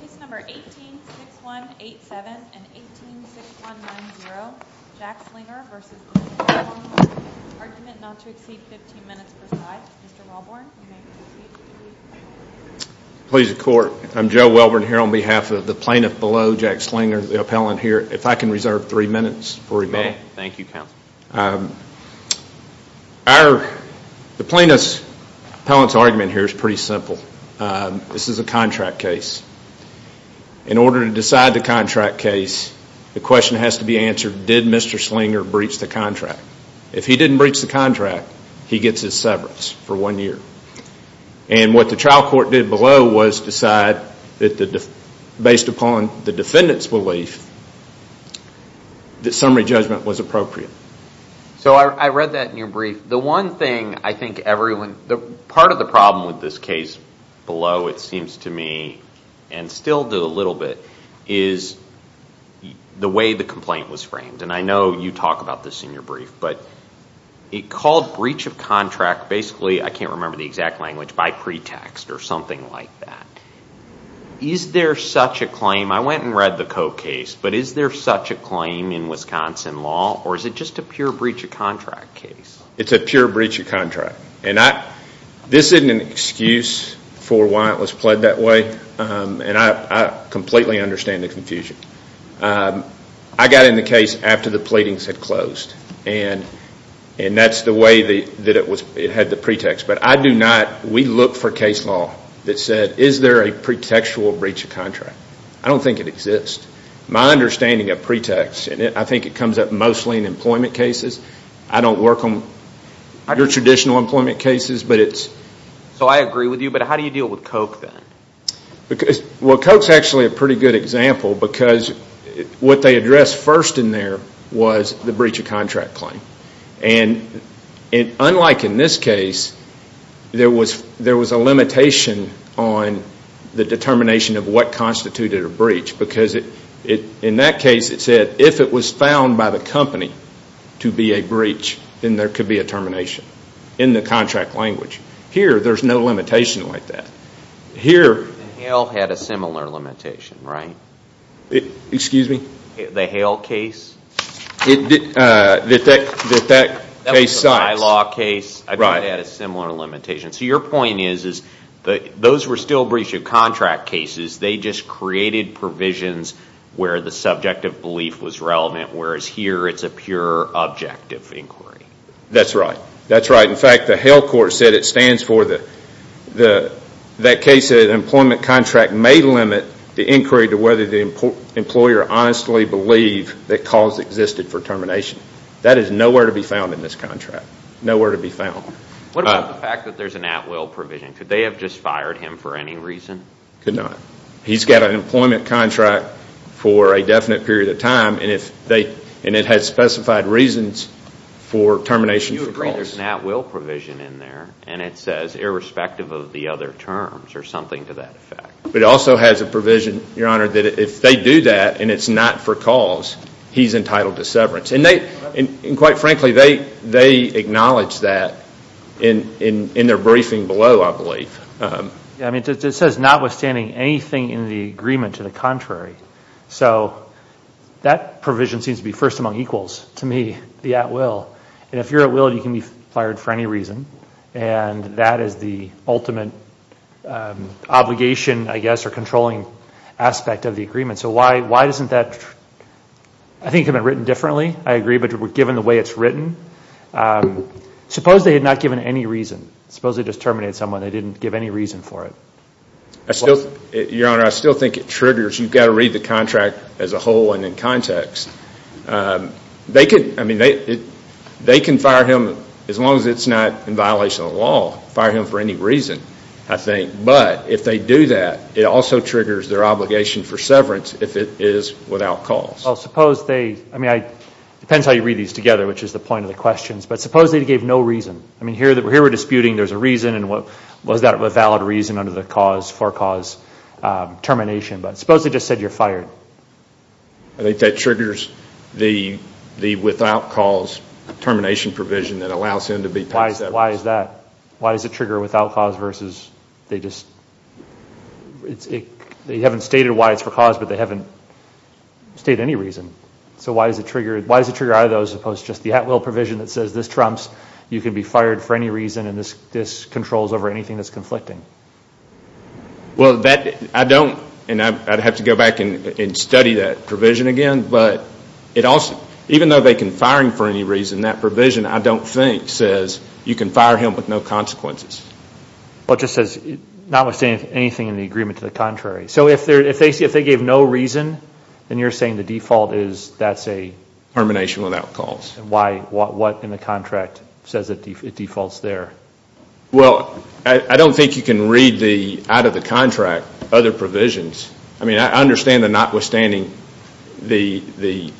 Case No. 18-6187 and 18-6190, Jack Slinger v. The PendaForm Company Argument not to exceed 15 minutes per side. Mr. Welborn, you may proceed. Please, the court. I'm Joe Welborn here on behalf of the plaintiff below, Jack Slinger, the appellant here. If I can reserve three minutes for rebuttal. You may. Thank you, counsel. The plaintiff's argument here is pretty simple. This is a contract case. In order to decide the contract case, the question has to be answered, did Mr. Slinger breach the contract? If he didn't breach the contract, he gets his severance for one year. And what the trial court did below was decide, based upon the defendant's belief, that summary judgment was appropriate. So I read that in your brief. The one thing I think everyone, part of the problem with this case below, it seems to me, and still do a little bit, is the way the complaint was framed. And I know you talk about this in your brief. But it called breach of contract, basically, I can't remember the exact language, by pretext or something like that. Is there such a claim? I went and read the Coke case. But is there such a claim in Wisconsin law? Or is it just a pure breach of contract case? It's a pure breach of contract. And this isn't an excuse for why it was pled that way. And I completely understand the confusion. I got in the case after the pleadings had closed. And that's the way that it had the pretext. But I do not, we look for case law that said, is there a pretextual breach of contract? I don't think it exists. My understanding of pretext, I think it comes up mostly in employment cases. I don't work under traditional employment cases. So I agree with you, but how do you deal with Coke then? Well, Coke is actually a pretty good example. Because what they addressed first in there was the breach of contract claim. And unlike in this case, there was a limitation on the determination of what constituted a breach. Because in that case, it said, if it was found by the company to be a breach, then there could be a termination. In the contract language. Here, there's no limitation like that. And Hale had a similar limitation, right? Excuse me? The Hale case? That case. That was a high law case. I think it had a similar limitation. So your point is, those were still breach of contract cases. They just created provisions where the subjective belief was relevant. Whereas here, it's a pure objective inquiry. That's right. That's right. In fact, the Hale court said it stands for that case that an employment contract may limit the inquiry to whether the employer honestly believed that calls existed for termination. That is nowhere to be found in this contract. Nowhere to be found. What about the fact that there's an at-will provision? Could they have just fired him for any reason? Could not. He's got an employment contract for a definite period of time. And it has specified reasons for termination for calls. There's an at-will provision in there. And it says irrespective of the other terms or something to that effect. But it also has a provision, Your Honor, that if they do that and it's not for calls, he's entitled to severance. And quite frankly, they acknowledge that in their briefing below, I believe. I mean, it says notwithstanding anything in the agreement to the contrary. So that provision seems to be first among equals to me, the at-will. And if you're at-will, you can be fired for any reason. And that is the ultimate obligation, I guess, or controlling aspect of the agreement. So why doesn't that, I think, have been written differently. I agree. But given the way it's written, suppose they had not given any reason. Suppose they just terminated someone. They didn't give any reason for it. Your Honor, I still think it triggers. You've got to read the contract as a whole and in context. They could, I mean, they can fire him as long as it's not in violation of the law. Fire him for any reason, I think. But if they do that, it also triggers their obligation for severance if it is without cause. Well, suppose they, I mean, it depends how you read these together, which is the point of the questions. But suppose they gave no reason. I mean, here we're disputing there's a reason and was that a valid reason under the cause for cause termination. But suppose they just said you're fired. I think that triggers the without cause termination provision that allows him to be paid severance. Why is that? Why does it trigger without cause versus they just, they haven't stated why it's for cause, but they haven't stated any reason. So why does it trigger either of those as opposed to just the at-will provision that says this trumps, you can be fired for any reason and this controls over anything that's conflicting? Well, that, I don't, and I'd have to go back and study that provision again. But it also, even though they can fire him for any reason, that provision I don't think says you can fire him with no consequences. Well, it just says notwithstanding anything in the agreement to the contrary. So if they gave no reason, then you're saying the default is that's a? Termination without cause. Why, what in the contract says it defaults there? Well, I don't think you can read the, out of the contract, other provisions. I mean, I understand the notwithstanding, the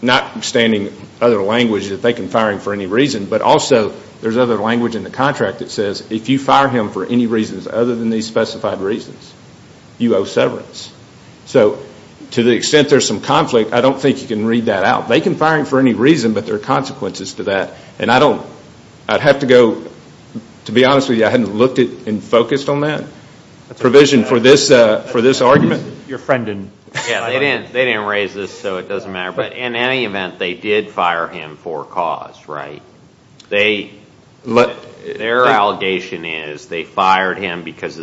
notwithstanding other language that they can fire him for any reason, but also there's other language in the contract that says if you fire him for any reasons other than these specified reasons, you owe severance. So to the extent there's some conflict, I don't think you can read that out. They can fire him for any reason, but there are consequences to that. And I don't, I'd have to go, to be honest with you, I hadn't looked and focused on that provision for this argument. Your friend didn't. Yeah, they didn't raise this, so it doesn't matter. But in any event, they did fire him for cause, right? Their allegation is they fired him because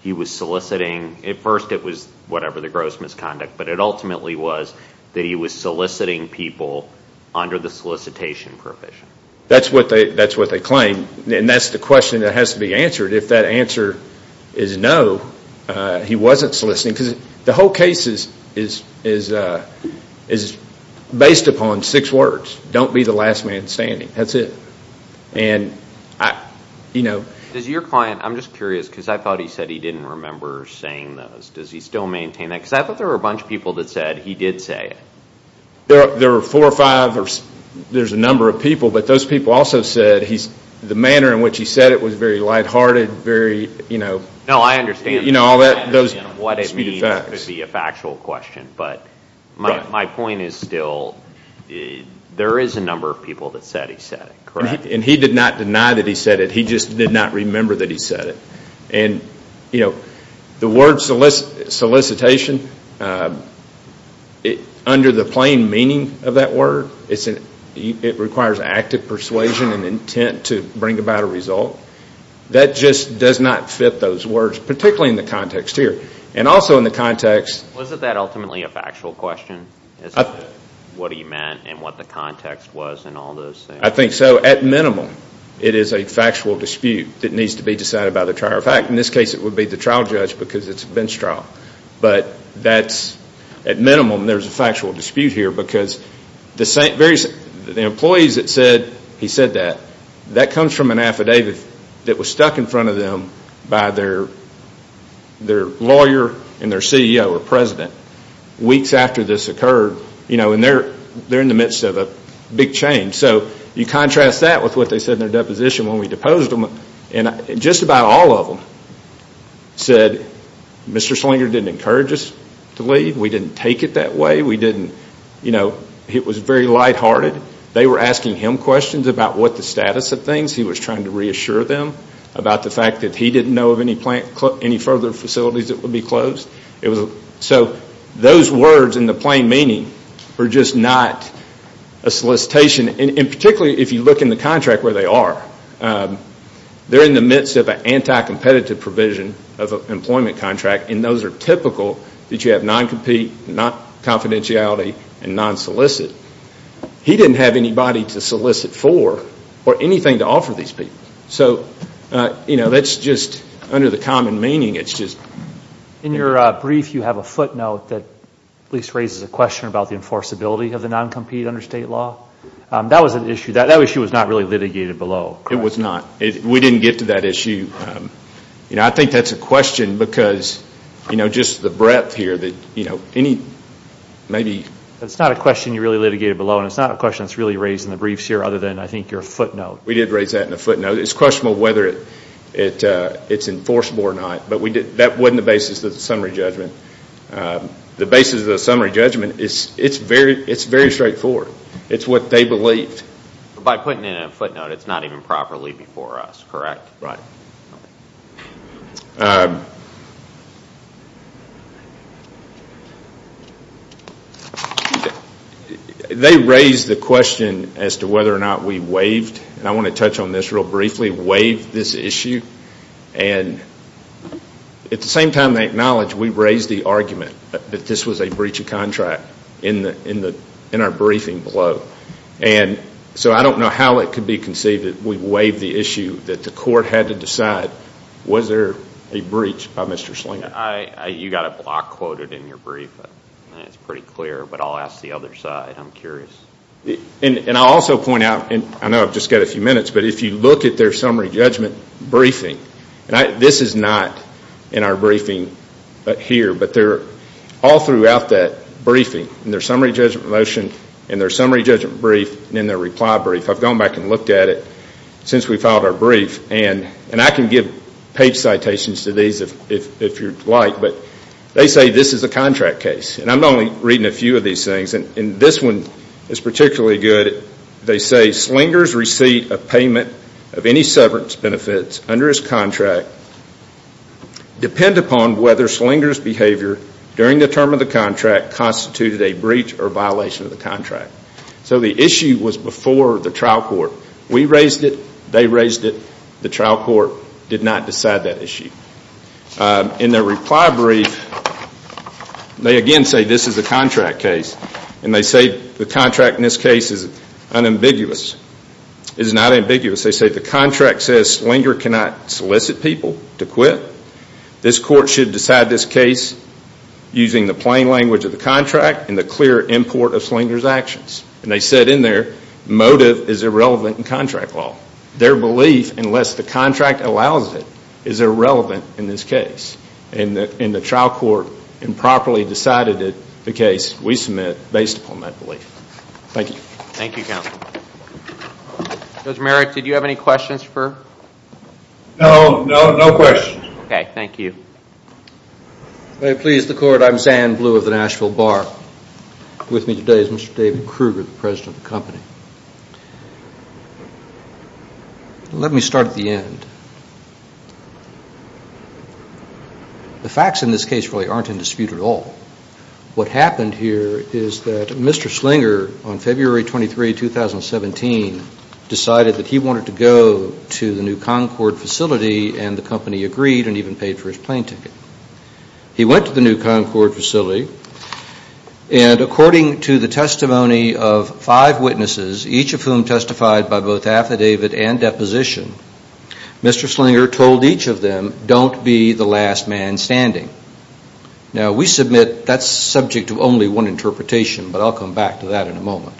he was soliciting, at first it was whatever, the gross misconduct, but it ultimately was that he was soliciting people under the solicitation provision. That's what they claim, and that's the question that has to be answered. If that answer is no, he wasn't soliciting, because the whole case is based upon six words, don't be the last man standing, that's it. Does your client, I'm just curious, because I thought he said he didn't remember saying those, does he still maintain that? Because I thought there were a bunch of people that said he did say it. There were four or five, there's a number of people, but those people also said the manner in which he said it was very lighthearted, very, you know. No, I understand what it means to be a factual question, but my point is still, there is a number of people that said he said it, correct? And he did not deny that he said it, he just did not remember that he said it. And, you know, the word solicitation, under the plain meaning of that word, it requires active persuasion and intent to bring about a result. That just does not fit those words, particularly in the context here. And also in the context. Wasn't that ultimately a factual question as to what he meant and what the context was and all those things? I think so. At minimum, it is a factual dispute that needs to be decided by the trial. In fact, in this case it would be the trial judge because it's a bench trial. But that's, at minimum, there's a factual dispute here because the employees that said he said that, that comes from an affidavit that was stuck in front of them by their lawyer and their CEO or president. Weeks after this occurred, you know, and they're in the midst of a big change. So you contrast that with what they said in their deposition when we deposed them. And just about all of them said Mr. Slinger didn't encourage us to leave. We didn't take it that way. We didn't, you know, it was very lighthearted. They were asking him questions about what the status of things. He was trying to reassure them about the fact that he didn't know of any further facilities that would be closed. So those words in the plain meaning were just not a solicitation. And particularly if you look in the contract where they are, they're in the midst of an anti-competitive provision of an employment contract. And those are typical that you have non-compete, non-confidentiality, and non-solicit. He didn't have anybody to solicit for or anything to offer these people. So, you know, that's just under the common meaning. In your brief you have a footnote that at least raises a question about the enforceability of the non-compete under state law. That was an issue. That issue was not really litigated below. It was not. We didn't get to that issue. You know, I think that's a question because, you know, just the breadth here that, you know, any, maybe. It's not a question you really litigated below. And it's not a question that's really raised in the briefs here other than I think your footnote. We did raise that in the footnote. You know, it's questionable whether it's enforceable or not. But that wasn't the basis of the summary judgment. The basis of the summary judgment is it's very straightforward. It's what they believed. By putting it in a footnote, it's not even properly before us, correct? Right. They raised the question as to whether or not we waived. And I want to touch on this real briefly. Waived this issue. And at the same time they acknowledged we raised the argument that this was a breach of contract in our briefing below. And so I don't know how it could be conceived that we waived the issue, that the court had to decide was there a breach by Mr. Slinger. You got a block quoted in your brief. That's pretty clear. But I'll ask the other side. I'm curious. And I'll also point out, I know I've just got a few minutes, but if you look at their summary judgment briefing, this is not in our briefing here, but they're all throughout that briefing. In their summary judgment motion, in their summary judgment brief, and in their reply brief. I've gone back and looked at it since we filed our brief. And I can give page citations to these if you'd like, but they say this is a contract case. And I'm only reading a few of these things. And this one is particularly good. They say Slinger's receipt of payment of any severance benefits under his contract depend upon whether Slinger's behavior during the term of the contract constituted a breach or violation of the contract. So the issue was before the trial court. We raised it. They raised it. The trial court did not decide that issue. In their reply brief, they again say this is a contract case. And they say the contract in this case is unambiguous. It is not ambiguous. They say the contract says Slinger cannot solicit people to quit. This court should decide this case using the plain language of the contract and the clear import of Slinger's actions. And they said in there, motive is irrelevant in contract law. Their belief, unless the contract allows it, is irrelevant in this case. And the trial court improperly decided it, the case we submit, based upon that belief. Thank you. Thank you, counsel. Judge Merrick, did you have any questions for? No, no questions. Okay, thank you. May it please the court, I'm Sam Blue of the Nashville Bar. With me today is Mr. David Kruger, the president of the company. Let me start at the end. The facts in this case really aren't in dispute at all. What happened here is that Mr. Slinger, on February 23, 2017, decided that he wanted to go to the new Concord facility, and the company agreed and even paid for his plane ticket. He went to the new Concord facility, and according to the testimony of five witnesses, each of whom testified by both affidavit and deposition, Mr. Slinger told each of them, don't be the last man standing. Now, we submit that's subject to only one interpretation, but I'll come back to that in a moment.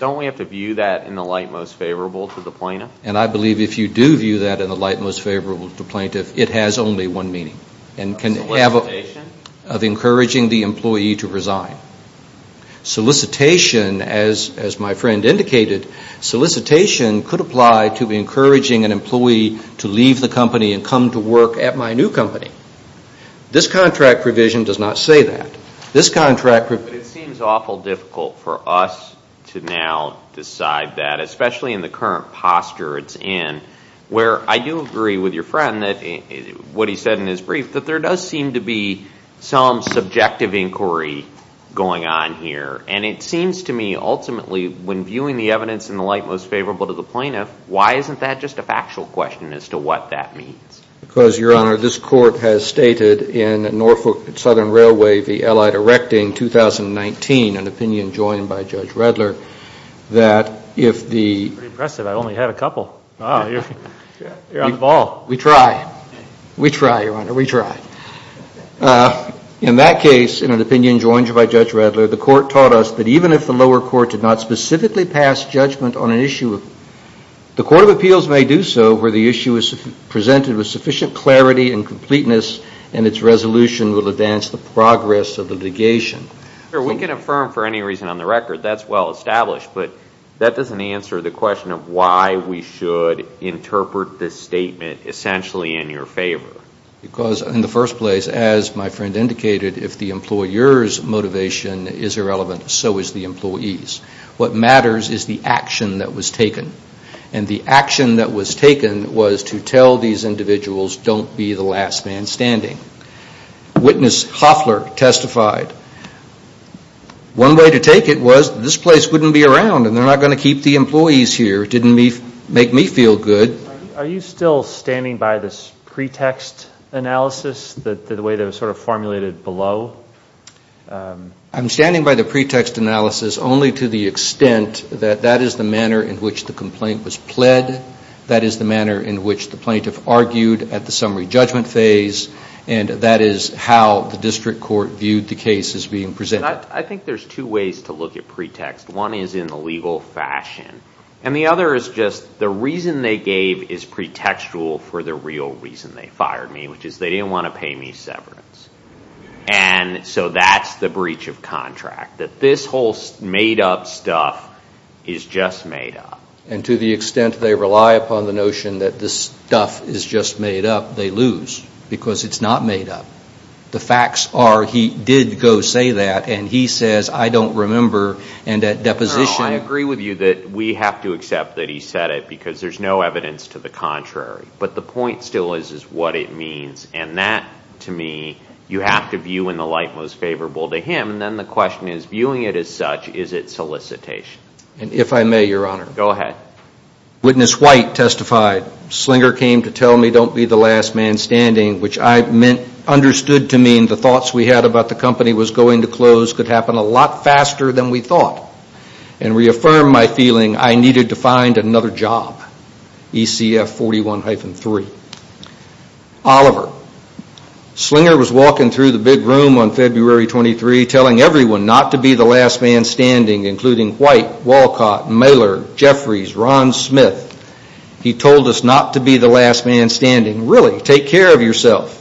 Don't we have to view that in the light most favorable to the plaintiff? And I believe if you do view that in the light most favorable to the plaintiff, it has only one meaning. A solicitation? Of encouraging the employee to resign. Solicitation, as my friend indicated, solicitation could apply to encouraging an employee to leave the company and come to work at my new company. This contract provision does not say that. But it seems awful difficult for us to now decide that, especially in the current posture it's in, where I do agree with your friend, what he said in his brief, that there does seem to be some subjective inquiry going on here. And it seems to me, ultimately, when viewing the evidence in the light most favorable to the plaintiff, why isn't that just a factual question as to what that means? Because, Your Honor, this court has stated in Norfolk Southern Railway v. Allied Erecting 2019, an opinion joined by Judge Redler, that if the That's pretty impressive. I only had a couple. You're on the ball. We try. We try, Your Honor. We try. In that case, in an opinion joined by Judge Redler, the court taught us that even if the lower court did not specifically pass judgment on an issue, the court of appeals may do so where the issue is presented with sufficient clarity and completeness and its resolution will advance the progress of the litigation. We can affirm for any reason on the record that's well established. But that doesn't answer the question of why we should interpret this statement essentially in your favor. Because, in the first place, as my friend indicated, if the employer's motivation is irrelevant, so is the employee's. What matters is the action that was taken. And the action that was taken was to tell these individuals, don't be the last man standing. Witness Hoffler testified. One way to take it was this place wouldn't be around and they're not going to keep the employees here. It didn't make me feel good. Are you still standing by this pretext analysis, the way that it was sort of formulated below? I'm standing by the pretext analysis only to the extent that that is the manner in which the complaint was pled, that is the manner in which the plaintiff argued at the summary judgment phase, and that is how the district court viewed the case as being presented. I think there's two ways to look at pretext. One is in the legal fashion. And the other is just the reason they gave is pretextual for the real reason they fired me, which is they didn't want to pay me severance. And so that's the breach of contract, that this whole made-up stuff is just made up. And to the extent they rely upon the notion that this stuff is just made up, they lose because it's not made up. The facts are he did go say that and he says, I don't remember, and at deposition – No, I agree with you that we have to accept that he said it because there's no evidence to the contrary. But the point still is what it means. And that, to me, you have to view in the light most favorable to him. And then the question is, viewing it as such, is it solicitation? And if I may, Your Honor. Go ahead. Witness White testified, Slinger came to tell me don't be the last man standing, which I understood to mean the thoughts we had about the company was going to close could happen a lot faster than we thought and reaffirmed my feeling I needed to find another job, ECF 41-3. Oliver, Slinger was walking through the big room on February 23 telling everyone not to be the last man standing, including White, Walcott, Mailer, Jeffries, Ron Smith. He told us not to be the last man standing. Really, take care of yourself,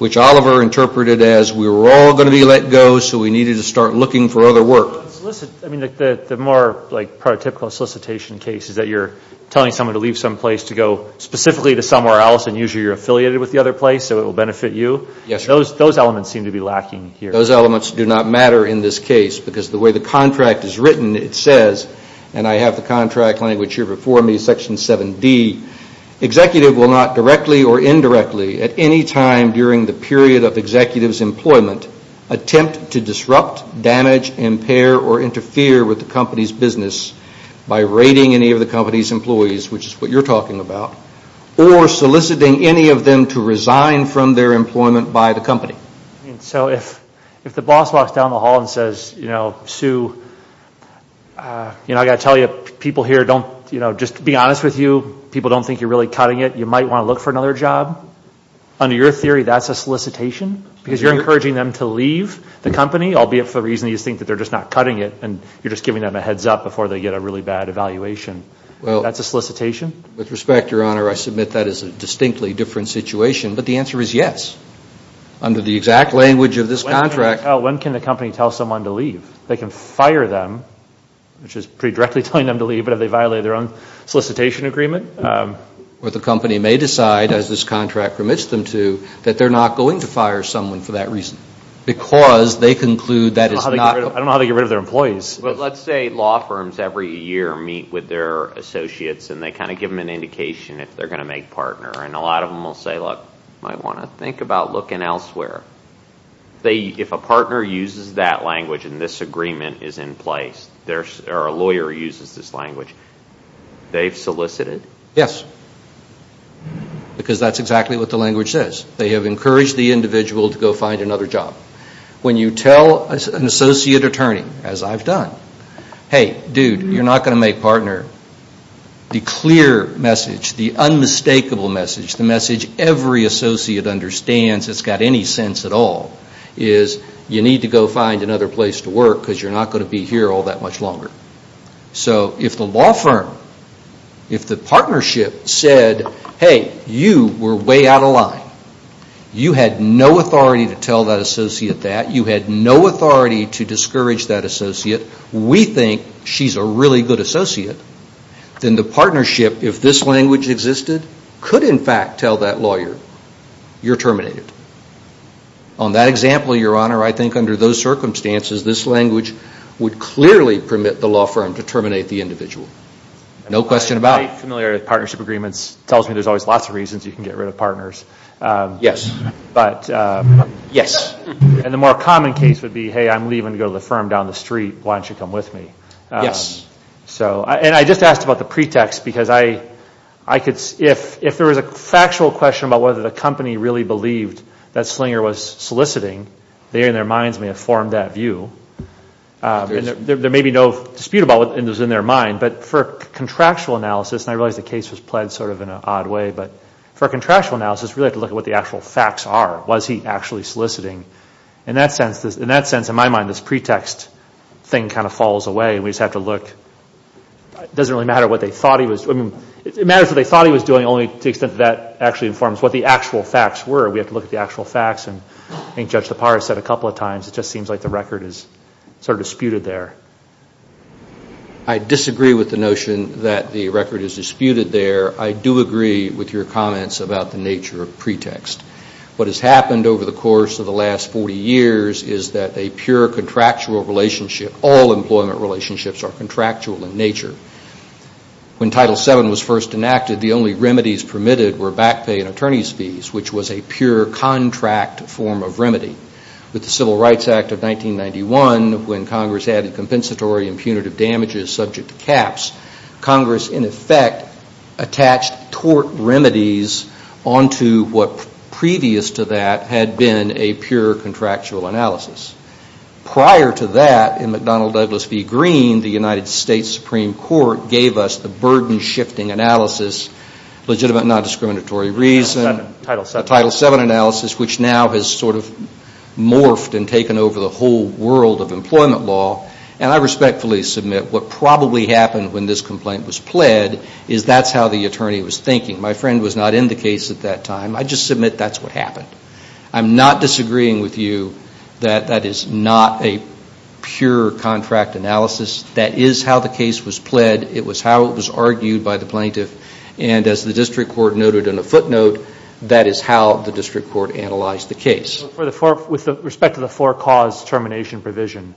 which Oliver interpreted as we were all going to be let go, so we needed to start looking for other work. The more prototypical solicitation case is that you're telling someone to leave someplace to go specifically to somewhere else and usually you're affiliated with the other place, so it will benefit you. Yes, Your Honor. Those elements seem to be lacking here. Those elements do not matter in this case because the way the contract is written, it says, and I have the contract language here before me, Section 7D, executive will not directly or indirectly at any time during the period of executive's employment attempt to disrupt, damage, impair, or interfere with the company's business by raiding any of the company's employees, which is what you're talking about, or soliciting any of them to resign from their employment by the company. So if the boss walks down the hall and says, you know, Sue, you know, I've got to tell you, people here don't, you know, just to be honest with you, people don't think you're really cutting it. You might want to look for another job. Under your theory, that's a solicitation because you're encouraging them to leave the company, albeit for the reason you think that they're just not cutting it and you're just giving them a heads up before they get a really bad evaluation. That's a solicitation? With respect, Your Honor, I submit that is a distinctly different situation, but the answer is yes. Under the exact language of this contract. When can the company tell someone to leave? They can fire them, which is pretty directly telling them to leave, but if they violate their own solicitation agreement. But the company may decide, as this contract permits them to, that they're not going to fire someone for that reason because they conclude that it's not. I don't know how to get rid of their employees. But let's say law firms every year meet with their associates and they kind of give them an indication if they're going to make partner. And a lot of them will say, look, I want to think about looking elsewhere. If a partner uses that language and this agreement is in place, or a lawyer uses this language, they've solicited? Yes. Because that's exactly what the language says. They have encouraged the individual to go find another job. When you tell an associate attorney, as I've done, hey, dude, you're not going to make partner. The clear message, the unmistakable message, the message every associate understands that's got any sense at all, is you need to go find another place to work because you're not going to be here all that much longer. So if the law firm, if the partnership said, hey, you were way out of line. You had no authority to tell that associate that. You had no authority to discourage that associate. We think she's a really good associate. Then the partnership, if this language existed, could in fact tell that lawyer, you're terminated. On that example, Your Honor, I think under those circumstances, this language would clearly permit the law firm to terminate the individual. No question about it. I'm familiar with partnership agreements. It tells me there's always lots of reasons you can get rid of partners. Yes. But, yes. And the more common case would be, hey, I'm leaving to go to the firm down the street. Why don't you come with me? Yes. So, and I just asked about the pretext because I could, if there was a factual question about whether the company really believed that Slinger was soliciting, they in their minds may have formed that view. There may be no dispute about what was in their mind, but for contractual analysis, and I realize the case was pled sort of in an odd way, but for contractual analysis, we really have to look at what the actual facts are. Was he actually soliciting? In that sense, in my mind, this pretext thing kind of falls away, and we just have to look. It doesn't really matter what they thought he was doing. It matters what they thought he was doing only to the extent that that actually informs what the actual facts were. We have to look at the actual facts, and I think Judge Tappara said a couple of times, it just seems like the record is sort of disputed there. I disagree with the notion that the record is disputed there. I do agree with your comments about the nature of pretext. What has happened over the course of the last 40 years is that a pure contractual relationship, all employment relationships are contractual in nature. When Title VII was first enacted, the only remedies permitted were back pay and attorney's fees, which was a pure contract form of remedy. With the Civil Rights Act of 1991, when Congress added compensatory and punitive damages subject to caps, Congress, in effect, attached tort remedies onto what previous to that had been a pure contractual analysis. Prior to that, in McDonnell-Douglas v. Green, the United States Supreme Court gave us the burden-shifting analysis, legitimate non-discriminatory reason, Title VII analysis, which now has sort of morphed and taken over the whole world of employment law, and I respectfully submit what probably happened when this complaint was pled is that's how the attorney was thinking. My friend was not in the case at that time. I just submit that's what happened. I'm not disagreeing with you that that is not a pure contract analysis. That is how the case was pled. It was how it was argued by the plaintiff, and as the district court noted in a footnote, that is how the district court analyzed the case. With respect to the four-cause termination provision,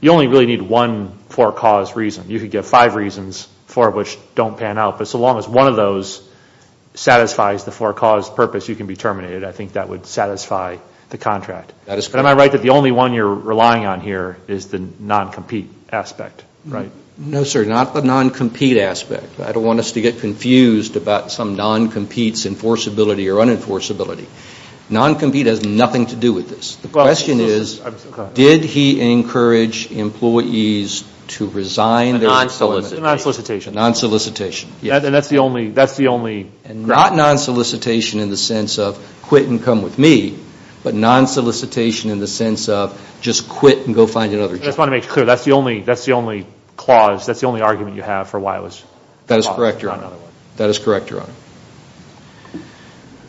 you only really need one four-cause reason. You could get five reasons, four of which don't pan out, but so long as one of those satisfies the four-cause purpose, you can be terminated. I think that would satisfy the contract. But am I right that the only one you're relying on here is the non-compete aspect, right? No, sir, not the non-compete aspect. I don't want us to get confused about some non-compete's enforceability or unenforceability. Non-compete has nothing to do with this. The question is, did he encourage employees to resign their non-solicitation? Non-solicitation. Non-solicitation, yes. And that's the only ground. And not non-solicitation in the sense of quit and come with me, but non-solicitation in the sense of just quit and go find another job. I just want to make it clear, that's the only clause, that's the only argument you have for why it was paused. That is correct, Your Honor. Not another one. That is correct, Your Honor.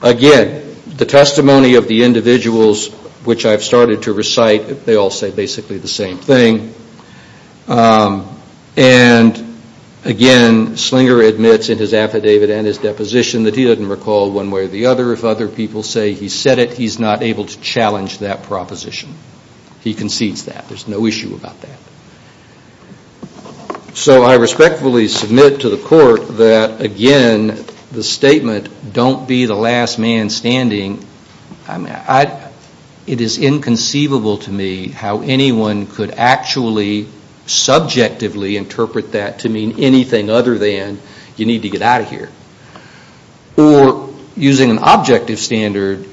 Again, the testimony of the individuals which I've started to recite, they all say basically the same thing. And again, Slinger admits in his affidavit and his deposition that he doesn't recall one way or the other. If other people say he said it, he's not able to challenge that proposition. He concedes that. There's no issue about that. So I respectfully submit to the court that, again, the statement, don't be the last man standing, it is inconceivable to me how anyone could actually subjectively interpret that to mean anything other than you need to get out of here. Or using an objective standard,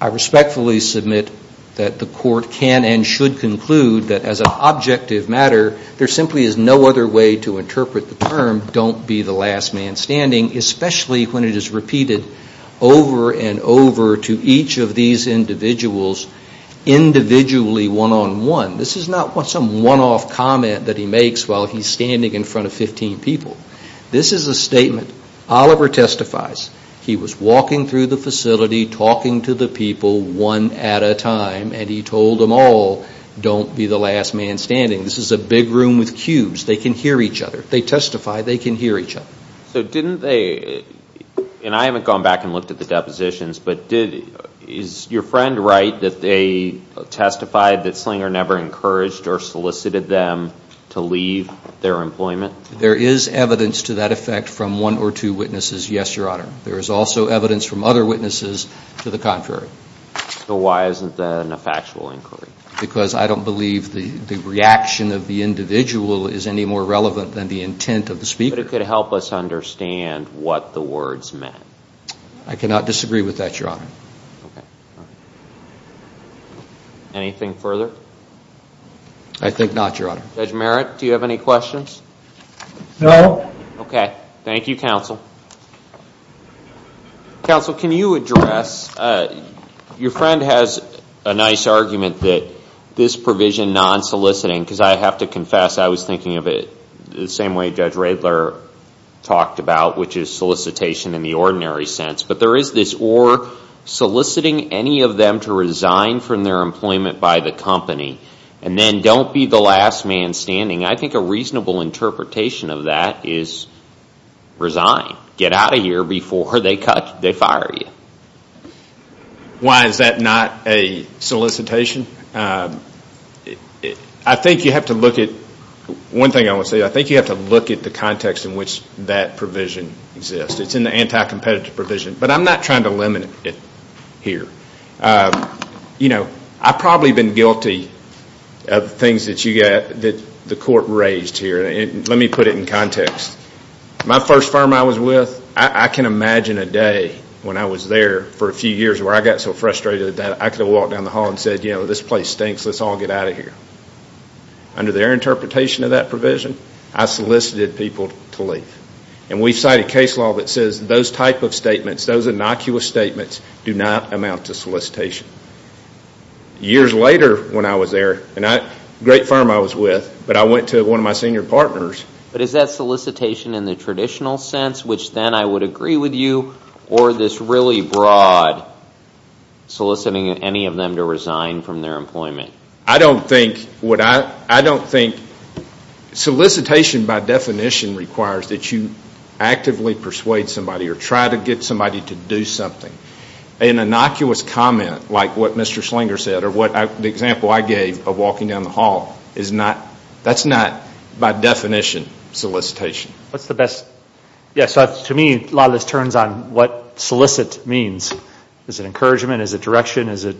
I respectfully submit that the court can and should conclude that as an objective matter, there simply is no other way to interpret the term, don't be the last man standing, especially when it is repeated over and over to each of these individuals individually one-on-one. This is not some one-off comment that he makes while he's standing in front of 15 people. This is a statement. Oliver testifies. He was walking through the facility, talking to the people one at a time, and he told them all, don't be the last man standing. This is a big room with cubes. They can hear each other. They testify, they can hear each other. So didn't they, and I haven't gone back and looked at the depositions, but is your friend right that they testified that Slinger never encouraged or solicited them to leave their employment? There is evidence to that effect from one or two witnesses. Yes, Your Honor. There is also evidence from other witnesses to the contrary. So why isn't that a factual inquiry? Because I don't believe the reaction of the individual is any more relevant than the intent of the speaker. But it could help us understand what the words meant. I cannot disagree with that, Your Honor. Okay. Anything further? I think not, Your Honor. Judge Merritt, do you have any questions? No. Okay. Thank you, counsel. Counsel, can you address, your friend has a nice argument that this provision, non-soliciting, because I have to confess I was thinking of it the same way Judge Radler talked about, which is solicitation in the ordinary sense. But there is this or soliciting any of them to resign from their employment by the company and then don't be the last man standing. I think a reasonable interpretation of that is resign. Get out of here before they fire you. Why is that not a solicitation? I think you have to look at, one thing I will say, I think you have to look at the context in which that provision exists. It's in the anti-competitive provision. But I'm not trying to limit it here. You know, I've probably been guilty of things that the court raised here. Let me put it in context. My first firm I was with, I can imagine a day when I was there for a few years where I got so frustrated that I could have walked down the hall and said, you know, this place stinks, let's all get out of here. Under their interpretation of that provision, I solicited people to leave. And we've cited case law that says those type of statements, those innocuous statements do not amount to solicitation. Years later when I was there, a great firm I was with, but I went to one of my senior partners. But is that solicitation in the traditional sense, which then I would agree with you, or this really broad soliciting any of them to resign from their employment? I don't think solicitation by definition requires that you actively persuade somebody or try to get somebody to do something. An innocuous comment like what Mr. Schlinger said or the example I gave of walking down the hall, that's not by definition solicitation. Yes, to me a lot of this turns on what solicit means. Is it encouragement? Is it direction? Is it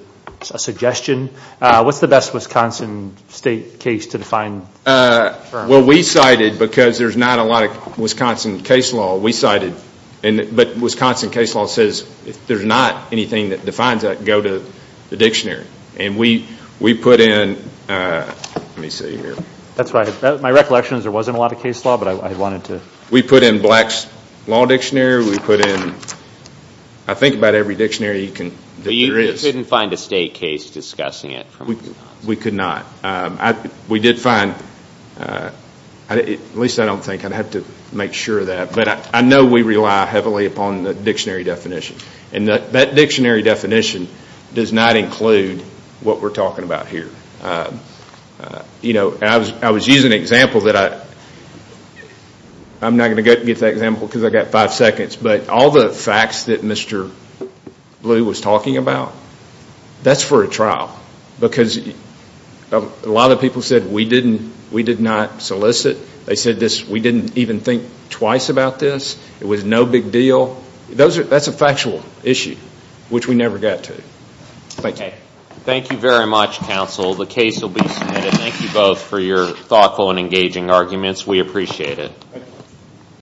a suggestion? What's the best Wisconsin state case to define? Well, we cited because there's not a lot of Wisconsin case law. But Wisconsin case law says if there's not anything that defines that, go to the dictionary. And we put in – let me see here. That's right. My recollection is there wasn't a lot of case law, but I wanted to – We put in Black's Law Dictionary. We put in I think about every dictionary that there is. But you couldn't find a state case discussing it? We could not. We did find – at least I don't think. I'd have to make sure of that. But I know we rely heavily upon the dictionary definition. And that dictionary definition does not include what we're talking about here. I was using an example that I – I'm not going to get to that example because I've got five seconds. But all the facts that Mr. Blue was talking about, that's for a trial. Because a lot of people said we did not solicit. They said we didn't even think twice about this. It was no big deal. That's a factual issue, which we never got to. Thank you. Thank you very much, counsel. The case will be submitted. Thank you both for your thoughtful and engaging arguments. We appreciate it.